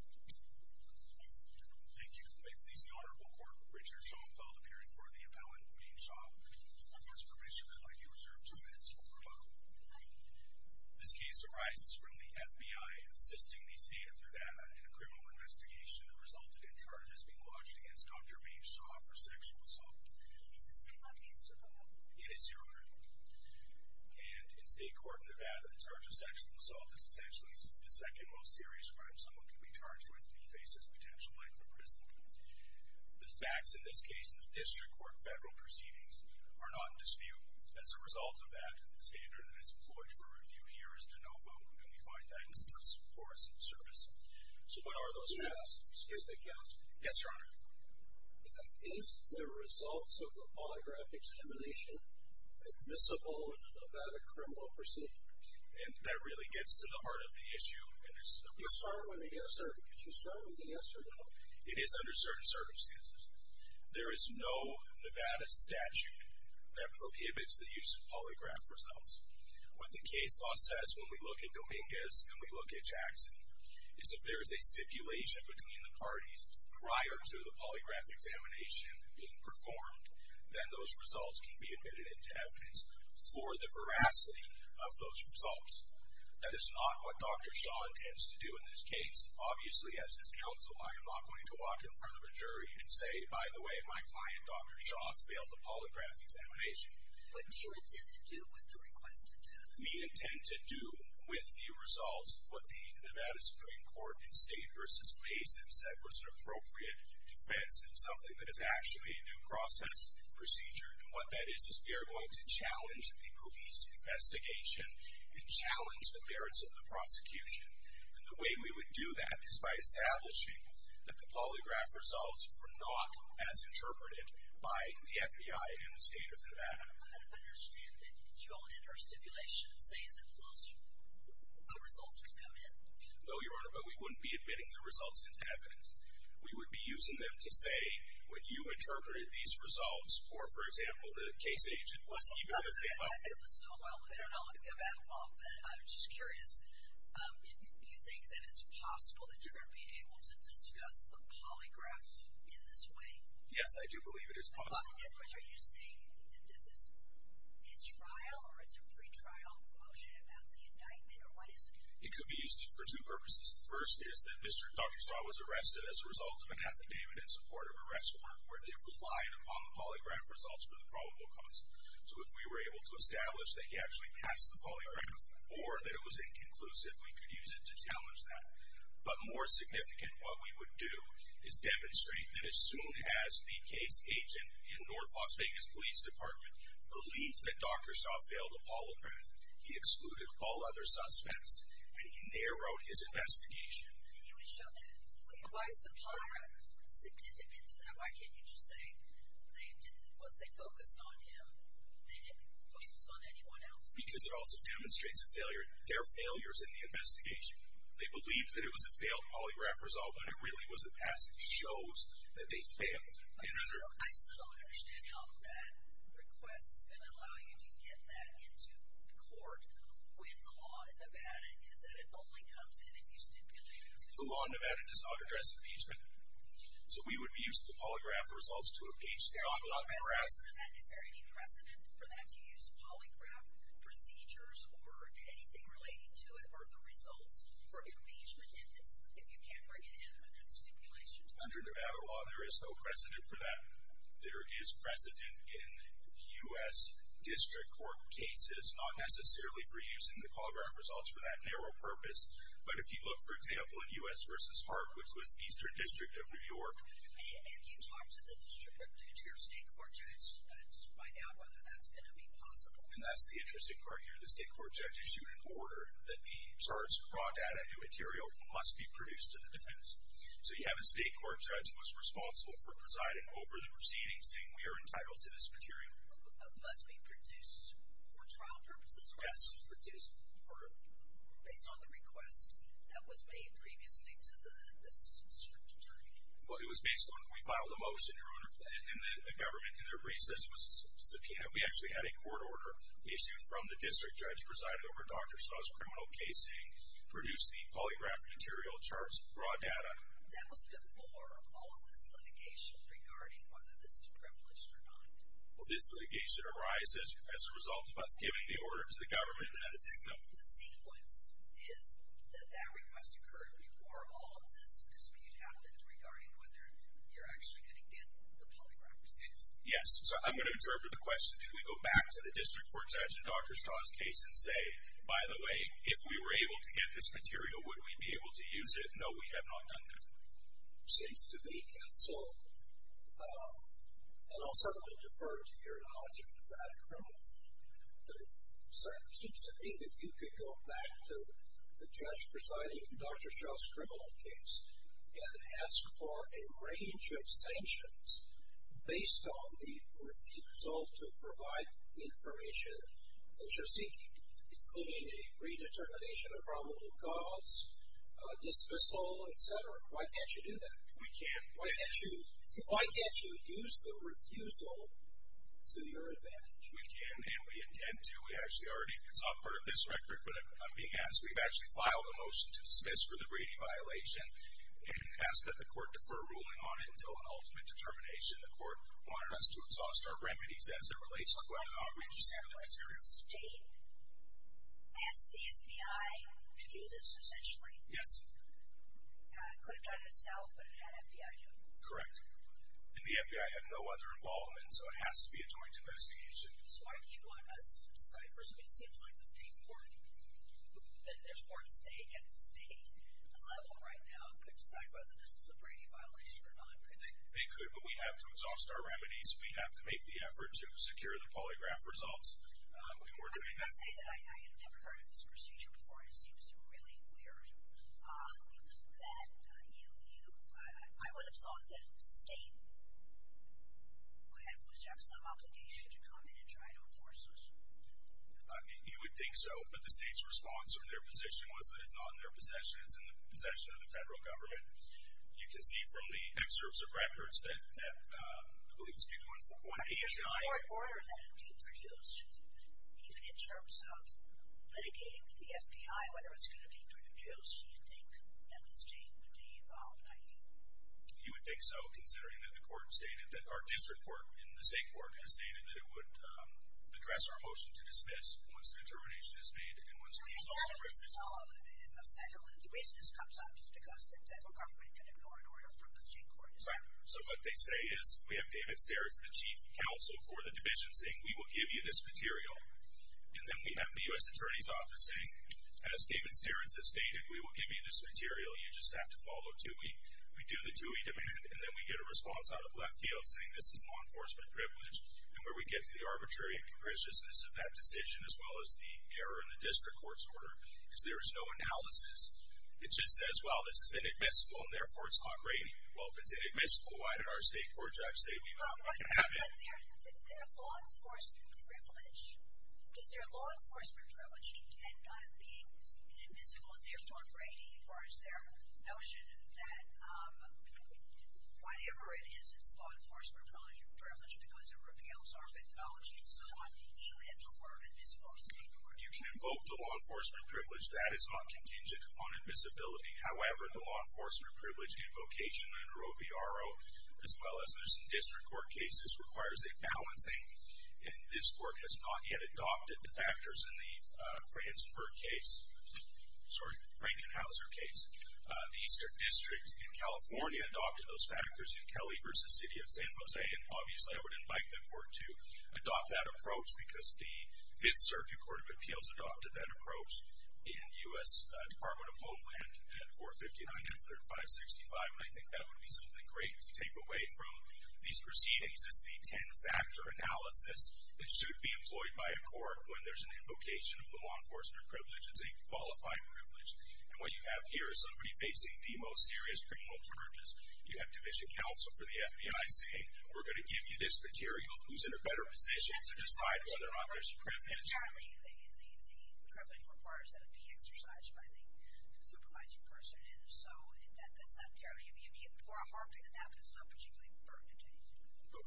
Thank you. May it please the Honorable Court, Richard Schoenfeld appearing for the appellant Mane Shah. With your permission, I'd like you to reserve two minutes for the program. This case arises from the FBI assisting the state of Nevada in a criminal investigation that resulted in charges being lodged against Dr. Mane Shah for sexual assault. Is this a state-run case, sir? It is, Your Honor. And in state court Nevada, the charge of sexual assault is essentially the second most serious crime someone can be charged with if he faces potential length of prison. The facts in this case in the district court federal proceedings are not in dispute. As a result of that, the standard that is employed for review here is to know how long can we find that instance for us in service. So what are those facts? Yes, Your Honor. Is the results of the polygraph examination admissible in a Nevada criminal proceeding? And that really gets to the answer. It is under certain circumstances. There is no Nevada statute that prohibits the use of polygraph results. What the case law says when we look at Dominguez and we look at Jackson is if there is a stipulation between the parties prior to the polygraph examination being performed, then those results can be admitted into evidence for the veracity of those results. That is not what Dr. Shah intends to do in this case. Obviously, as his counsel, I am not going to walk in front of a jury and say, by the way, my client, Dr. Shah, failed the polygraph examination. What do you intend to do with the requested data? We intend to do with the results what the Nevada Supreme Court in State versus Mason said was an appropriate defense, and something that is actually a due process procedure. And what that is is we are going to challenge the police investigation and challenge the merits of the prosecution. And the way we would do that is by establishing that the polygraph results were not as interpreted by the FBI in the state of Nevada. I understand that you don't enter a stipulation saying that those results could come in. No, Your Honor, but we wouldn't be admitting the results into evidence. We would be using them to say, when you interpreted these results, or, for example, the case agent was keeping the sample. I don't know if I have that wrong, but I'm just curious. Do you think that it's possible that you're going to be able to discuss the polygraph in this way? Yes, I do believe it is possible. In other words, are you saying that this is trial, or it's a pre-trial motion about the indictment, or what is it? It could be used for two purposes. The first is that Dr. Shah was arrested as a result of an affidavit in support of an arrest warrant where they relied upon the polygraph results for the probable cause. So if we were able to establish that he actually passed the polygraph, or that it was inconclusive, we could use it to challenge that. But more significant, what we would do is demonstrate that as soon as the case agent in North Las Vegas Police Department believed that Dr. Shah failed the polygraph, he excluded all other suspects, and he narrowed his investigation. Why is the polygraph significant to that? Why can't you just say once they focused on him, they didn't focus on anyone else? Because it also demonstrates their failures in the investigation. They believed that it was a failed polygraph result, but it really was a pass. It shows that they failed. I still don't understand how that request is going to allow you to get that into court when the law in Nevada is that it only comes in if you stipulate it. The law in Nevada does not address impeachment. So we would use the polygraph results to impeach, not harass. Is there any precedent for that, to use polygraph procedures, or anything relating to it, or the results for impeachment if you can't bring it in under the stipulation? Under Nevada law, there is no precedent for that. There is precedent in U.S. District Court cases, not necessarily for using the polygraph results for that narrow purpose. But if you look, for example, at U.S. v. Hart, which was Eastern District of New York. If you talk to the district judge or your state court judge, just find out whether that's going to be possible. And that's the interesting part here. The state court judge issued an order that the charge brought at a new material must be produced to the defense. So you have a state court judge who was responsible for presiding over the proceedings, saying we are entitled to this material. It must be produced for trial purposes, or was it produced based on the request that was made previously to the district attorney? Well, it was based on, we filed a motion, and the government in their brief says it was subpoenaed. We actually had a court order issued from the district judge presiding over Dr. Shah's criminal case, saying we produce the polygraph material, charts, raw data. That was before all of this litigation regarding whether this is privileged or not. Well, this litigation arises as a result of us giving the order to the government and not a system. The sequence is that that request occurred before all of this dispute happened regarding whether you're actually going to get the polygraph results. Yes. So I'm going to interpret the question. Should we go back to the district court judge in Dr. Shah's case and say, by the way, if we were able to get this material, would we be able to use it? No, we have not done that. Seems to me, counsel, and I'll certainly defer to your knowledge of Nevada criminal law, but it certainly seems to me that you could go back to the judge presiding in Dr. Shah's criminal case and ask for a range of sanctions based on the refusal to provide the information that you're seeking, including a predetermination of probable cause, dismissal, etc. Why can't you do that? We can't. Why can't you use the refusal to your advantage? We can, and we intend to. It's not part of this record, but I'm being asked. We've actually filed a motion to dismiss for the Brady violation and ask that the court defer ruling on it until an ultimate determination. The court wanted us to exhaust our remedies as it relates to whether or not we just have the right to do this. Did you ask the FBI to do this, essentially? Yes. It could have done it itself, but it had FBI doing it. Correct. And the FBI had no other involvement, so it has to be a joint investigation. So why do you want us to decide? First of all, it seems like the state court, and there's more state at the state level right now, could decide whether this is a Brady violation or not, couldn't they? They could, but we have to exhaust our remedies. We have to make the effort to secure the polygraph results. I would say that I had never heard of this procedure before. It seems really weird that you, I would have thought that the state would have some obligation to come in and try to enforce this. You would think so, but the state's response or their position was that it's not in their possession, it's in the possession of the federal government. You can see from the excerpts of records that, I believe it's page 189. Are there any court orders that have been produced, even in terms of litigating the FBI, whether it's going to be produced, do you think that the state would be involved, not you? You would think so, considering that the court stated that our district court in the state court has stated that it would address our motion to dismiss once the determination is made and once the results are written. Well, you have to follow it, and if a federal intervention comes up, it's because the federal government can ignore it, or the state court is not. So what they say is, we have David Sterritz, the chief counsel for the division, saying we will give you this material. And then we have the U.S. Attorney's Office saying, as David Sterritz has stated, we will give you this material, you just have to follow TUI. We do the TUI demand, and then we get a response out of left field saying this is law enforcement privilege, and where we get to the arbitrary and capriciousness of that decision, as well as the error in the district court's order, because there is no analysis. It just says, well, this is inadmissible, and therefore it's not rating. Well, if it's inadmissible, why did our state court judge say we would let it happen? But their law enforcement privilege, does their law enforcement privilege end up being inadmissible, and therefore rating, as far as their notion that whatever it is, it's a privilege, because it repels our methodology, and so on, should we have to order it? Is it possible to order it? You can invoke the law enforcement privilege. That is not contingent upon admissibility. However, the law enforcement privilege invocation under OVRO, as well as those district court cases, requires a balancing. And this court has not yet adopted the factors in the Frankenhauser case. The Eastern District in California adopted those factors in Kelly versus City of San Jose, and obviously I would invite the court to adopt that approach, because the 5th Circuit Court of Appeals adopted that approach in U.S. Department of Homeland at 459 and 3565, and I think that would be something great to take away from these proceedings, is the ten-factor analysis that should be employed by a court when there's an invocation of the law enforcement privilege. It's a qualified privilege, and what you have here is somebody facing the most serious criminal charges. You have division counsel for the FBI saying, we're going to give you this material. Who's in a better position to decide whether or not there's a criminal charge? Apparently, the privilege requires that it be exercised by the supervising person, and so that's not terribly, you're harping on that, but it's not particularly pertinent to you.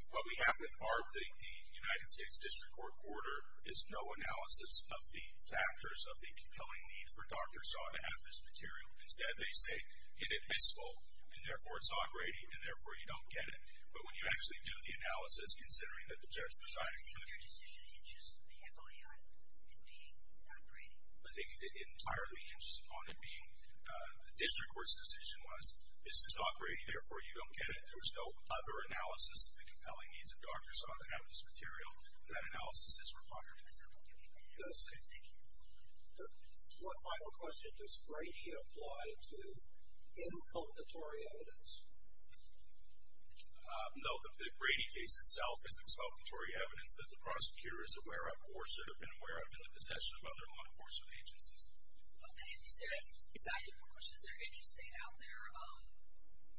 What we have with ARB, the United States District Court order, is no analysis of the factors of the compelling need for Dr. Saw to have this material. Instead, they say, inadmissible, and therefore, it's operating, and therefore, you don't get it. But when you actually do the analysis, considering that the judge presiding over the court— So your decision hinges heavily on it being operating? I think it entirely hinges on it being—the District Court's decision was, this is operating, therefore, you don't get it. There was no other analysis of the compelling needs of Dr. Saw to have this material, and that analysis is required. I'm sorry, I'll give you a minute. No, stay. Thank you. One final question. Does Brady apply to inculcatory evidence? No, the Brady case itself is inculcatory evidence that the prosecutor is aware of, or should have been aware of, in the possession of other law enforcement agencies. Okay, I'm just very excited for questions. Is there any state out there,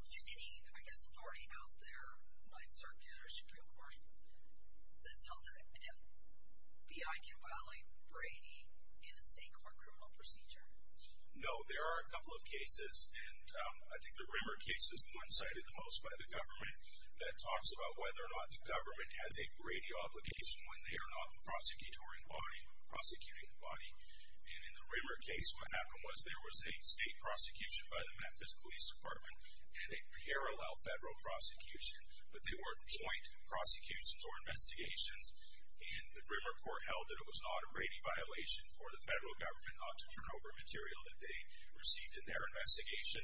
any, I guess, authority out there, the Ninth Circuit or the NBI, can violate Brady in a state court criminal procedure? No, there are a couple of cases, and I think the Rimmer case is the one cited the most by the government that talks about whether or not the government has a Brady obligation when they are not the prosecuting body. And in the Rimmer case, what happened was there was a state prosecution by the Memphis Police Department and a parallel federal prosecution, but they weren't joint prosecutions or investigations, and the Rimmer court held that it was not a Brady violation for the federal government not to turn over material that they received in their investigation.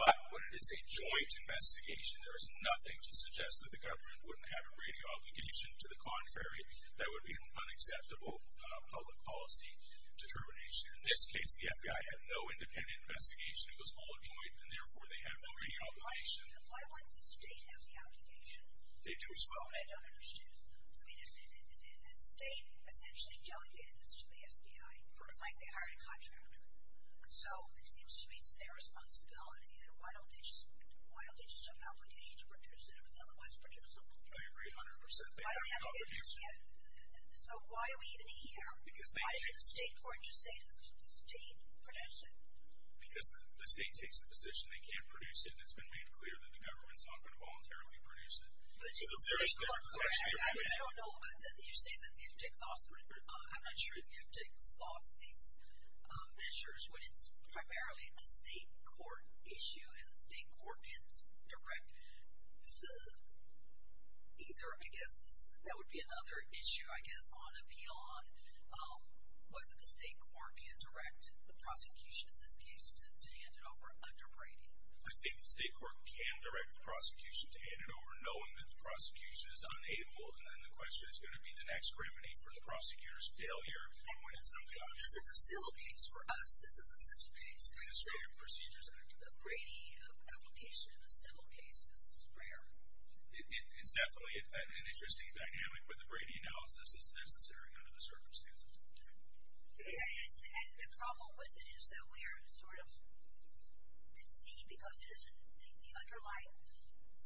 But when it is a joint investigation, there is nothing to suggest that the government wouldn't have a Brady obligation. To the contrary, that would be an unacceptable public policy determination. In this case, the FBI had no independent investigation. It was all a joint, and therefore they had no Brady obligation. Why wouldn't the state have the obligation? They do as well. That's what I don't understand. I mean, the state essentially delegated this to the FBI. It's like they hired a contractor. So it seems to me it's their responsibility. Why don't they just have an obligation to produce it if it's otherwise producible? I agree 100%. They have an obligation. So why are we even here? Why should the state court just say to the state, produce it? Because the state takes the position they can't produce it, and it's been made clear that the government's not going to voluntarily produce it. I don't know, but you say that you have to exhaust these measures when it's primarily the state court issue, and the state court can't direct either, I guess, that would be another issue, I guess, on appeal on whether the state court can direct the prosecution in this case to hand it over under Brady. I think the state court can direct the prosecution to hand it over, knowing that the prosecution is unable, and then the question is going to be the next criminine for the prosecutor's failure. And when somebody, this is a civil case for us. This is a system case. Administrative procedures are different. A Brady application in a civil case is rare. It's definitely an interesting dynamic, but the Brady analysis is necessary under the circumstances. And the problem with it is that we are sort of at sea because the underlying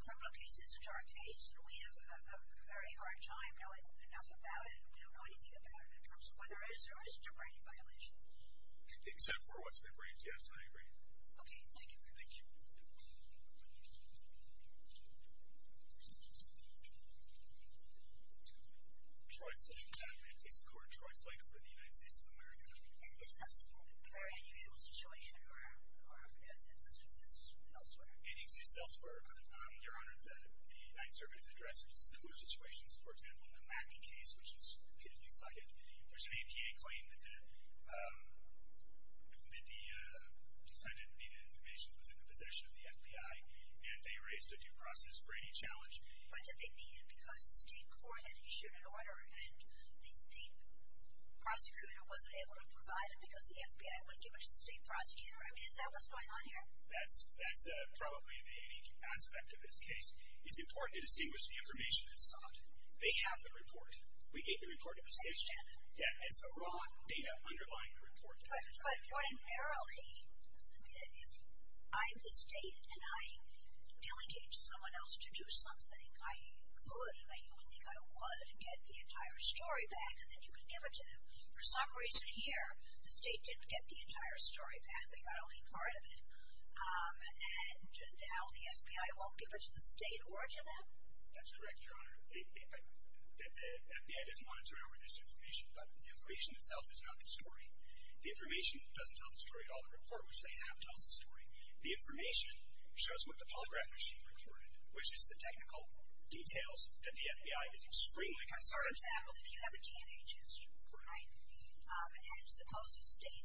criminal case isn't our case, and we have a very hard time knowing enough about it, we don't know anything about it, in terms of whether or not there is a Brady violation. Except for what's been briefed, yes, I agree. Okay, thank you. Thank you. Troy Flake, I'm in the case court. Troy Flake for the United States of America. Is this a very unusual situation, or have there been instances elsewhere? It exists elsewhere. Your Honor, the United Service addresses similar situations. For example, in the Mackie case, which is repeatedly cited, there's an APA claim that the defendant needed information that was in the possession of the FBI, and they erased a due process Brady challenge. But did they need it because the state court had issued an order, and the state prosecutor wasn't able to provide it because the FBI wouldn't give it to the state prosecutor? I mean, is that what's going on here? That's probably the unique aspect of this case. It's important to distinguish the information that's sought. They have the report. We gave the report to the state attorney. Yeah, it's the raw data underlying the report. But ordinarily, I mean, if I'm the state and I delegate to someone else to do something, I could, and I don't think I would, get the entire story back, and then you could give it to them. For some reason here, the state didn't get the entire story back. They got only part of it. And now the FBI won't give it to the state or to them? That's correct, Your Honor. The FBI doesn't monitor over this information, but the information itself is not the story. The information doesn't tell the story at all. The report, which they have, tells the story. The information shows what the polygraph machine recorded, which is the technical details that the FBI is extremely concerned about. I'm sorry to say, I don't know if you have a DNA test record, right? And suppose the state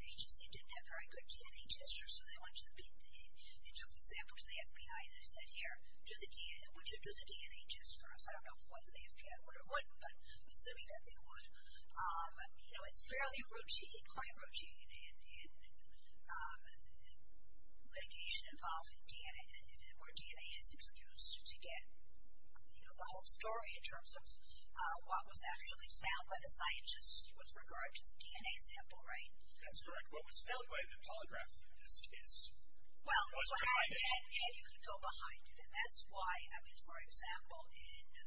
agency didn't have a very good DNA test record, so they went to the big, and they took the samples to the FBI, and they said, here, would you do the DNA test for us? I don't know whether the FBI would or wouldn't, but assuming that they would, you know, it's fairly routine, quite routine, in litigation involving DNA, where DNA is introduced to get, you know, the whole story in terms of what was actually found by the scientists with regard to the DNA sample, right? That's correct. What was found by the polygraph theorist is what was behind it. And you can go behind it, and that's why, I mean, for example, in the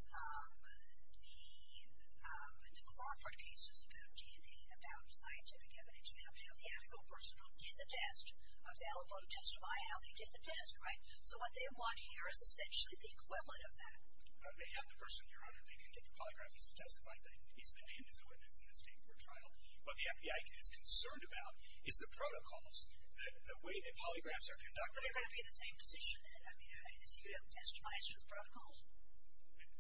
Crawford cases about DNA, about scientific evidence, you have to have the actual person who did the test available to testify how they did the test, right? So what they want here is essentially the equivalent of that. They have the person, Your Honor, they can get the polygraph, he's to testify that he's been named as a witness in this state court trial. What the FBI is concerned about is the protocols, the way that polygraphs are conducted. But they're going to be in the same position, I mean, if you don't testify, it's just protocols.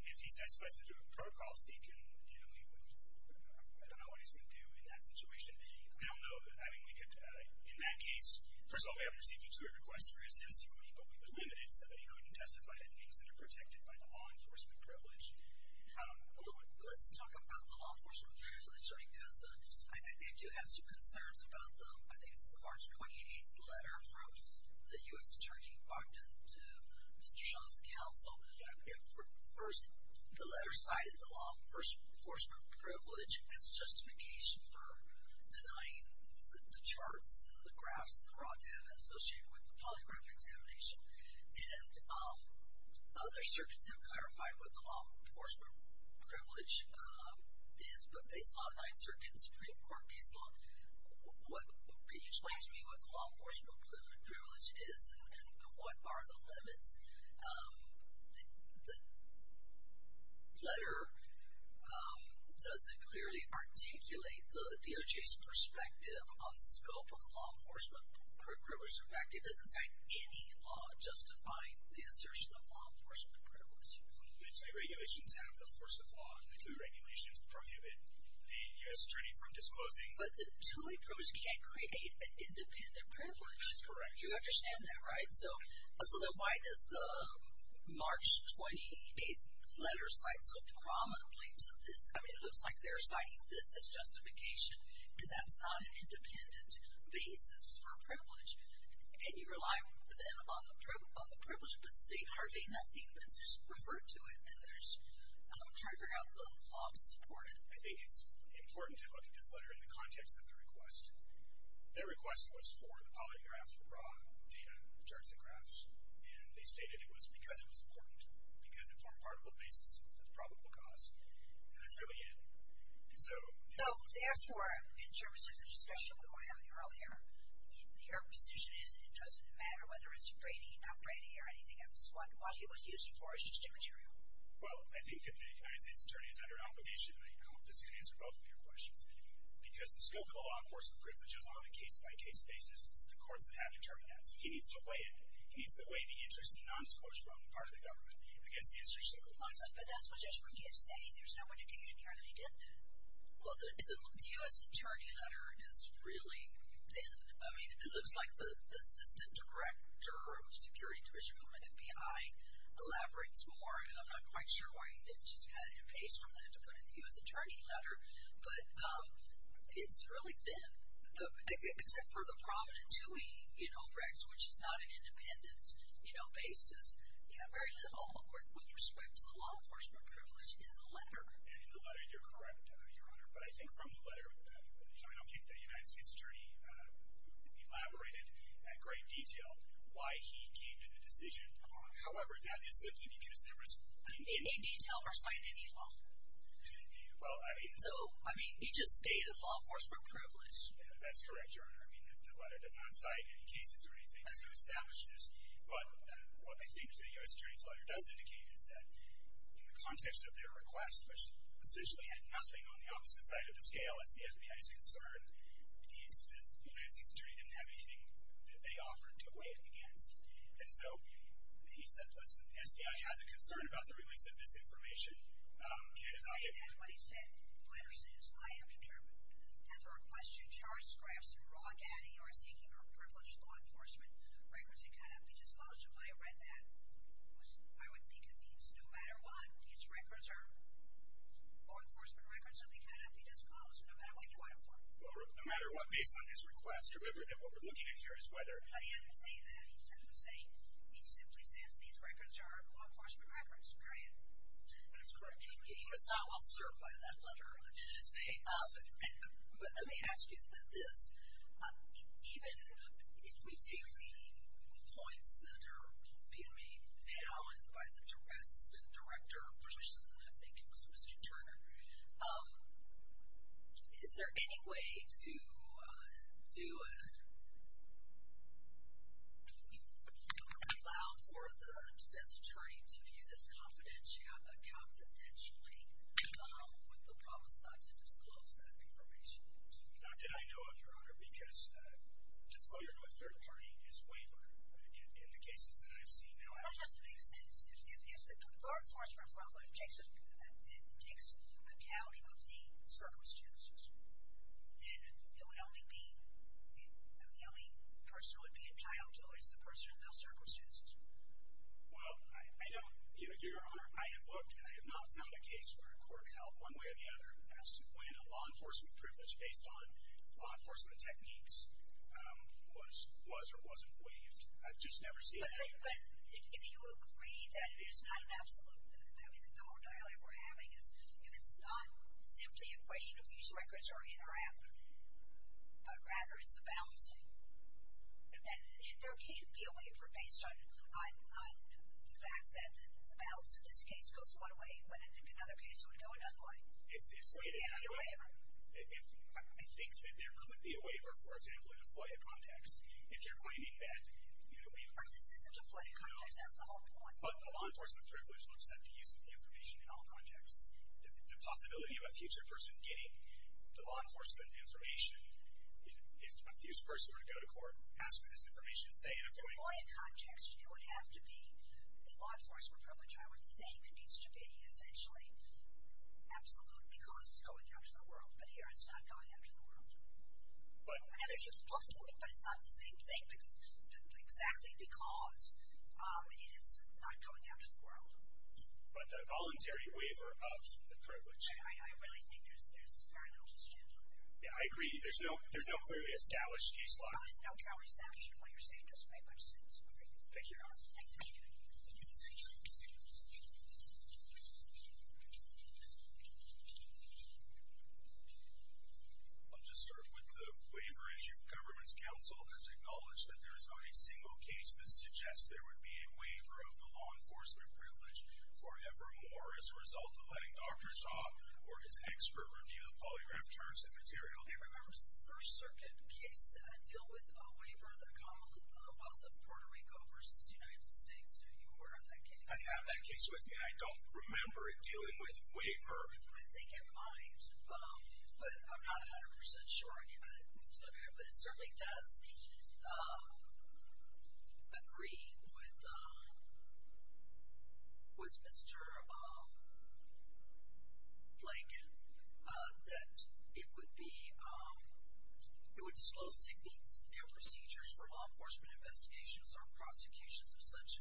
If he testifies to a protocol, see, I don't know what he's going to do in that situation. I don't know that, I mean, we could, in that case, first of all, we haven't received you to a request for his testimony, but we would limit it so that he couldn't testify at things that are protected by the law enforcement privilege. Let's talk about the law enforcement privilege, because I do have some concerns about them. I think it's the March 28th letter from the U.S. Attorney, Bogdan, to Mr. Shull's counsel. First, the letter cited the law enforcement privilege as justification for denying the charts and the graphs that were brought down and associated with the polygraph examination. And other circuits have clarified what the law enforcement privilege is, but based on the Ninth Circuit and Supreme Court case law, can you explain to me what the law enforcement privilege is and what are the limits? The letter doesn't clearly articulate the DOJ's perspective on the scope of the law enforcement privilege. In fact, it doesn't cite any law justifying the assertion of law enforcement privilege. The two regulations have the force of law, and the two regulations prohibit the U.S. Attorney from disclosing. But the two approves can't create an independent privilege. That's correct. You understand that, right? So then why does the March 28th letter cite so prominently to this? I mean, it looks like they're citing this as justification, and that's not an independent basis for privilege. And you rely, then, on the privilege, but state hardly nothing that's referred to it. And there's, I'm trying to figure out the law to support it. I think it's important to look at this letter in the context of the request. Their request was for the polygraph, the raw data, the charts and graphs. And they stated it was because it was important, because it formed part of the basis of the probable cause. And that's really it. So therefore, in terms of the discussion we were having earlier, your position is it doesn't matter whether it's grading, not grading, or anything else. What people use it for is just immaterial. Well, I think if the United States Attorney is under obligation, I hope this can answer both of your questions. Because the scope of the law, of course, the privilege is on a case-by-case basis. It's the courts that have to determine that. So he needs to weigh it. He needs to weigh the interest and non-disclosure on the part of the government against the institution. But that's just what you're saying. There's no indication here that he didn't. Well, the U.S. Attorney letter is really thin. I mean, it looks like the Assistant Director of Security, Judicial, and FBI elaborates more. And I'm not quite sure why he didn't. She's got it in place for him to put in the U.S. Attorney letter. But it's really thin. Except for the prominent two-way regs, which is not an independent basis. You have very little with respect to the law enforcement privilege in the letter. And in the letter, you're correct, Your Honor. But I think from the letter, I don't think the United States Attorney elaborated in great detail why he came to the decision. However, that is simply because there was in any— In detail or citing any law? Well, I mean— So, I mean, he just stated law enforcement privilege. Yeah, that's correct, Your Honor. I mean, the letter does not cite any cases or anything to establish this. But what I think the U.S. Attorney's letter does indicate is that in the context of their request, which essentially had nothing on the opposite side of the scale as the FBI is concerned, the United States Attorney didn't have anything that they offered to weigh in against. And so he said, listen, the FBI has a concern about the release of this information. And I— And that's what he said. The letter says, I am determined that the request to charge scraps in raw data you are seeking are privileged law enforcement records and cannot be disclosed. If I had read that, I would think it means no matter what, these records are law enforcement records and they cannot be disclosed, no matter what you write them for. Well, no matter what, based on his request. Remember that what we're looking at here is whether— No, he didn't say that. He said the same. He simply says these records are law enforcement records, period. That's correct. And he was not well served by that letter, I should say. But let me ask you about this. Even if we take the points that are being made now and by the assistant director or person, I think it was Mr. Turner, is there any way to allow for the defense attorney to view this confidentially with the promise not to disclose that information? Not that I know of, Your Honor, because disclosure to a third party is waivered in the cases that I've seen. No, it doesn't make sense. If the law enforcement profile takes account of the circumstances, then it would only be— the only person who would be entitled to it is the person in those circumstances. Well, I know, Your Honor, I have looked and I have not found a case where a court held one way or the other as to when a law enforcement privilege based on law enforcement techniques was or wasn't waived. I've just never seen that. But if you agree that it is not an absolute— I mean, the whole dialogue we're having is if it's not simply a question of these records are in or out, but rather it's about, and there can't be a waiver based on the fact that the balance in this case goes one way, but in another case it would go another way. There can't be a waiver. If—I think that there could be a waiver, for example, in a FOIA context. If you're claiming that we— This isn't a FOIA context, that's the whole point. But the law enforcement privilege looks at the use of the information in all contexts. The possibility of a future person getting the law enforcement information if a future person were to go to court, ask for this information, say in a FOIA context— In a FOIA context, it would have to be—the law enforcement privilege, I would think it needs to be essentially absolute because it's going out to the world. But here it's not going out to the world. But— And there's use both to it, but it's not the same thing because—exactly because it is not going out to the world. But a voluntary waiver of the privilege— I really think there's very little to stand on there. Yeah, I agree. There's no—there's no clearly established case law. There's no county statute. What you're saying doesn't make much sense. All right. Thank you. I'll just start with the waiver issue. Government's counsel has acknowledged that there is not a single case that suggests there would be a waiver of the law enforcement privilege forevermore as a result of letting or his expert review of polygraph terms and material. I remember it was the First Circuit case. I deal with a waiver that called the wealth of Puerto Rico versus the United States. Do you have a record on that case? I have that case with me. I don't remember it dealing with waiver. I think it might. But I'm not 100 percent sure. I need to look at it. It certainly does agree with Mr. Blank that it would be—it would disclose techniques and procedures for law enforcement investigations or prosecutions if such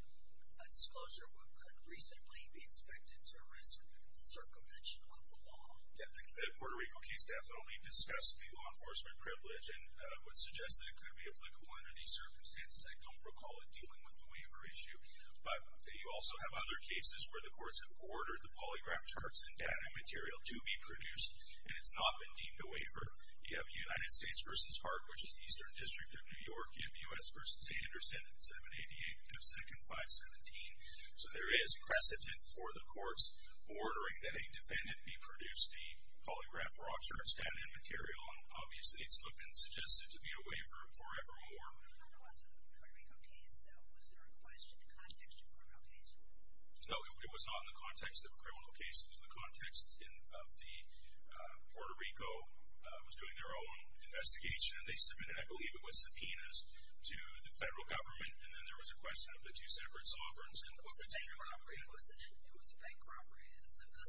disclosure could recently be expected to risk circumvention of the law. Yeah, the Puerto Rico case definitely discussed the law enforcement privilege. And I would suggest that it could be applicable under these circumstances. I don't recall it dealing with the waiver issue. But you also have other cases where the courts have ordered the polygraph charts and data and material to be produced, and it's not been deemed a waiver. You have United States versus Hart, which is Eastern District of New York. You have U.S. versus State under Senate 788 of 2nd 517. So there is precedent for the courts ordering that a defendant be produced the polygraph charts, data, and material. And obviously, it's not been suggested to be a waiver for evermore. But it was a Puerto Rico case, though. Was there a question in the context of a Puerto Rico case? No, it was not in the context of a criminal case. It was in the context of the Puerto Rico was doing their own investigation. And they submitted, I believe it was subpoenas, to the federal government. And then there was a question of the two separate sovereigns. It was a bank corporate, wasn't it? It was a bank corporate. So the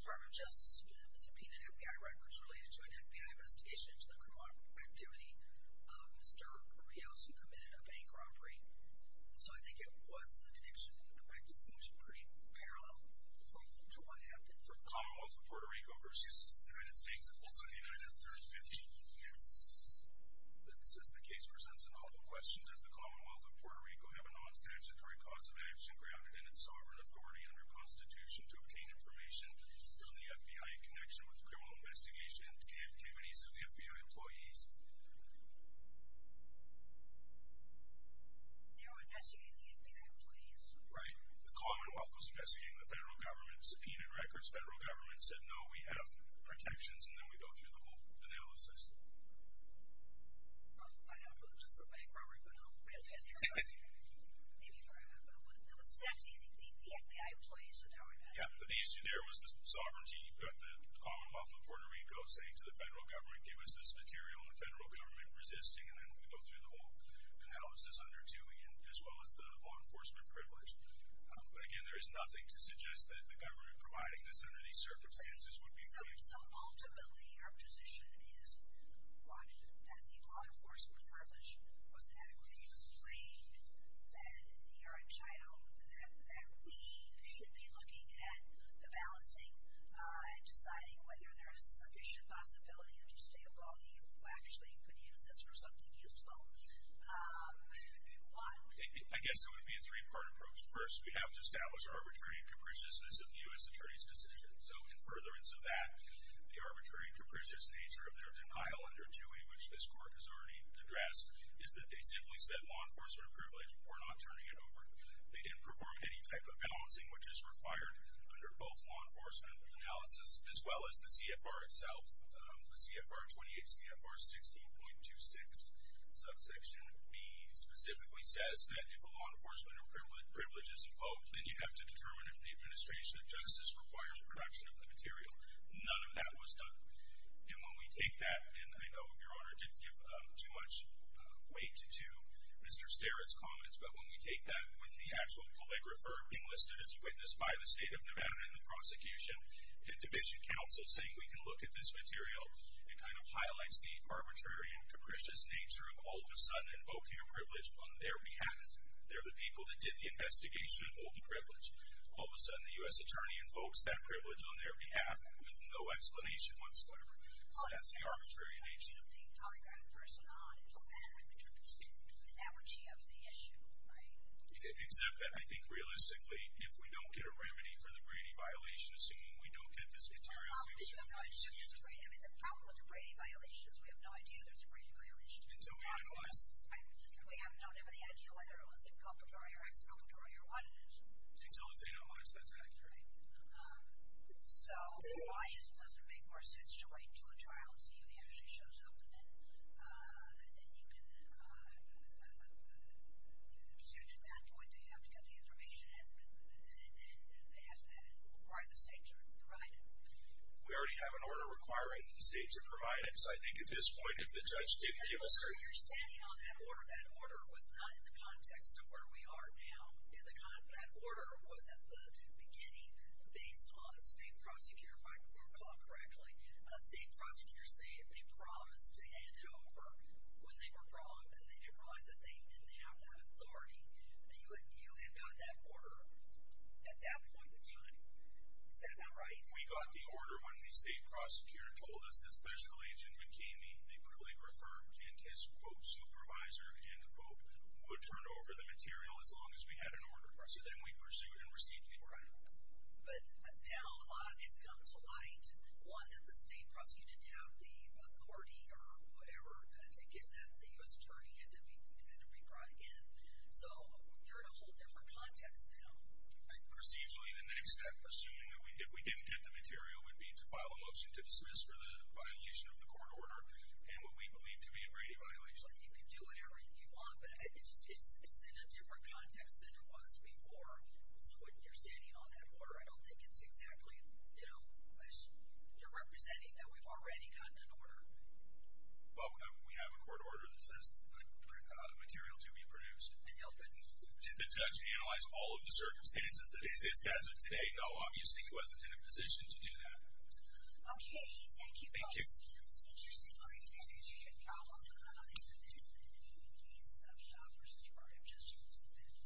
Department of Justice subpoenaed FBI records related to an FBI investigation into the criminal activity of Mr. Rios, who committed a bank robbery. So I think it was an addiction. And the record seems pretty parallel to what happened. For the Commonwealth of Puerto Rico versus the United States, it was on January 3, 1958. Yes. Since the case presents an awful question, does the Commonwealth of Puerto Rico have a non-statutory cause of action grounded in its sovereign authority under Constitution to obtain information from the FBI in connection with the criminal investigation activities of the FBI employees? No, it's actually the FBI employees. Right. The Commonwealth was investigating the federal government, subpoenaed records. Federal government said, no, we have protections. And then we go through the whole analysis. I have a hunch it's a bank robbery, but I don't believe it. I don't believe it. Maybe you're right about that. But it was the FBI employees that are doing that. Yeah, but the issue there was the sovereignty. You've got the Commonwealth of Puerto Rico saying to the federal government, give us this material. And the federal government resisting. And then we go through the whole analysis under, too, as well as the law enforcement privilege. But again, there is nothing to suggest that the government providing this under these circumstances would be fair. So ultimately, your position is that the law enforcement privilege was adequately explained, that you're entitled, that we should be looking at the balancing and deciding whether there is sufficient possibility of just a employee who actually could use this for something useful. I guess it would be a three-part approach. First, we have to establish arbitrary and capriciousness of the U.S. Attorney's decision. So in furtherance of that, the arbitrary and capricious nature of their denial under is that they simply said law enforcement privilege. We're not turning it over. They didn't perform any type of balancing, which is required under both law enforcement analysis, as well as the CFR itself. The CFR 28, CFR 16.26 subsection B specifically says that if a law enforcement privilege is invoked, then you have to determine if the administration of justice requires the production of the material. None of that was done. And when we take that, and I know Your Honor didn't give too much weight to Mr. Starrett's comments, but when we take that with the actual calligrapher being listed as a witness by the State of Nevada and the prosecution and division counsel saying we can look at this material, it kind of highlights the arbitrary and capricious nature of all of a sudden invoking a privilege on their behalf. They're the people that did the investigation, hold the privilege. All of a sudden, the U.S. Attorney invokes that privilege on their behalf with no explanation whatsoever. So that's the arbitrary nature of it. I do think calligraphers are not as bad when it comes to the energy of the issue, right? Except that I think realistically, if we don't get a remedy for the Brady violation, assuming we don't get this material, we can't use it. The problem with the Brady violation is we have no idea there's a Brady violation. Until we analyze it. We don't have any idea whether it was inculpatory or expulpatory or what it is. Until it's analyzed, that's accurate. Right. So, why does it make more sense to wait until a trial and see if he actually shows up in it? And then you can, to get to that point, do you have to get the information and ask why the states are providing it? We already have an order requiring that the states are providing it. So I think at this point, if the judge did give us a- You're standing on that order. That order was not in the context of where we are now. That order was at the beginning based on a state prosecutor, if I recall correctly. State prosecutors say if they promised to hand it over when they were wrong, then they didn't realize that they didn't have that authority. You had got that order at that point in time. Is that not right? We got the order when the state prosecutor told us that Special Agent McKamey, the prolate referent and his, quote, supervisor, end quote, would turn over the material as long as we had an order. So then we pursued and received the order. Right. But now, a lot of it's come to light. One, that the state prosecutor didn't have the authority or whatever to give that to the U.S. attorney and to be brought again. So, you're in a whole different context now. Procedurally, the next step, assuming that we, if we didn't get the material, would be to file a motion to dismiss for the violation of the court order and what we believe to be a rating violation. You can do whatever you want, but it's in a different context than it was before. So, when you're standing on that order, I don't think it's exactly, you know, you're representing that we've already gotten an order. Well, we have a court order that says the material to be produced. And you'll get moved. Did the judge analyze all of the circumstances that exist as of today? No, obviously he wasn't in a position to do that. Okay. Thank you both. Thank you.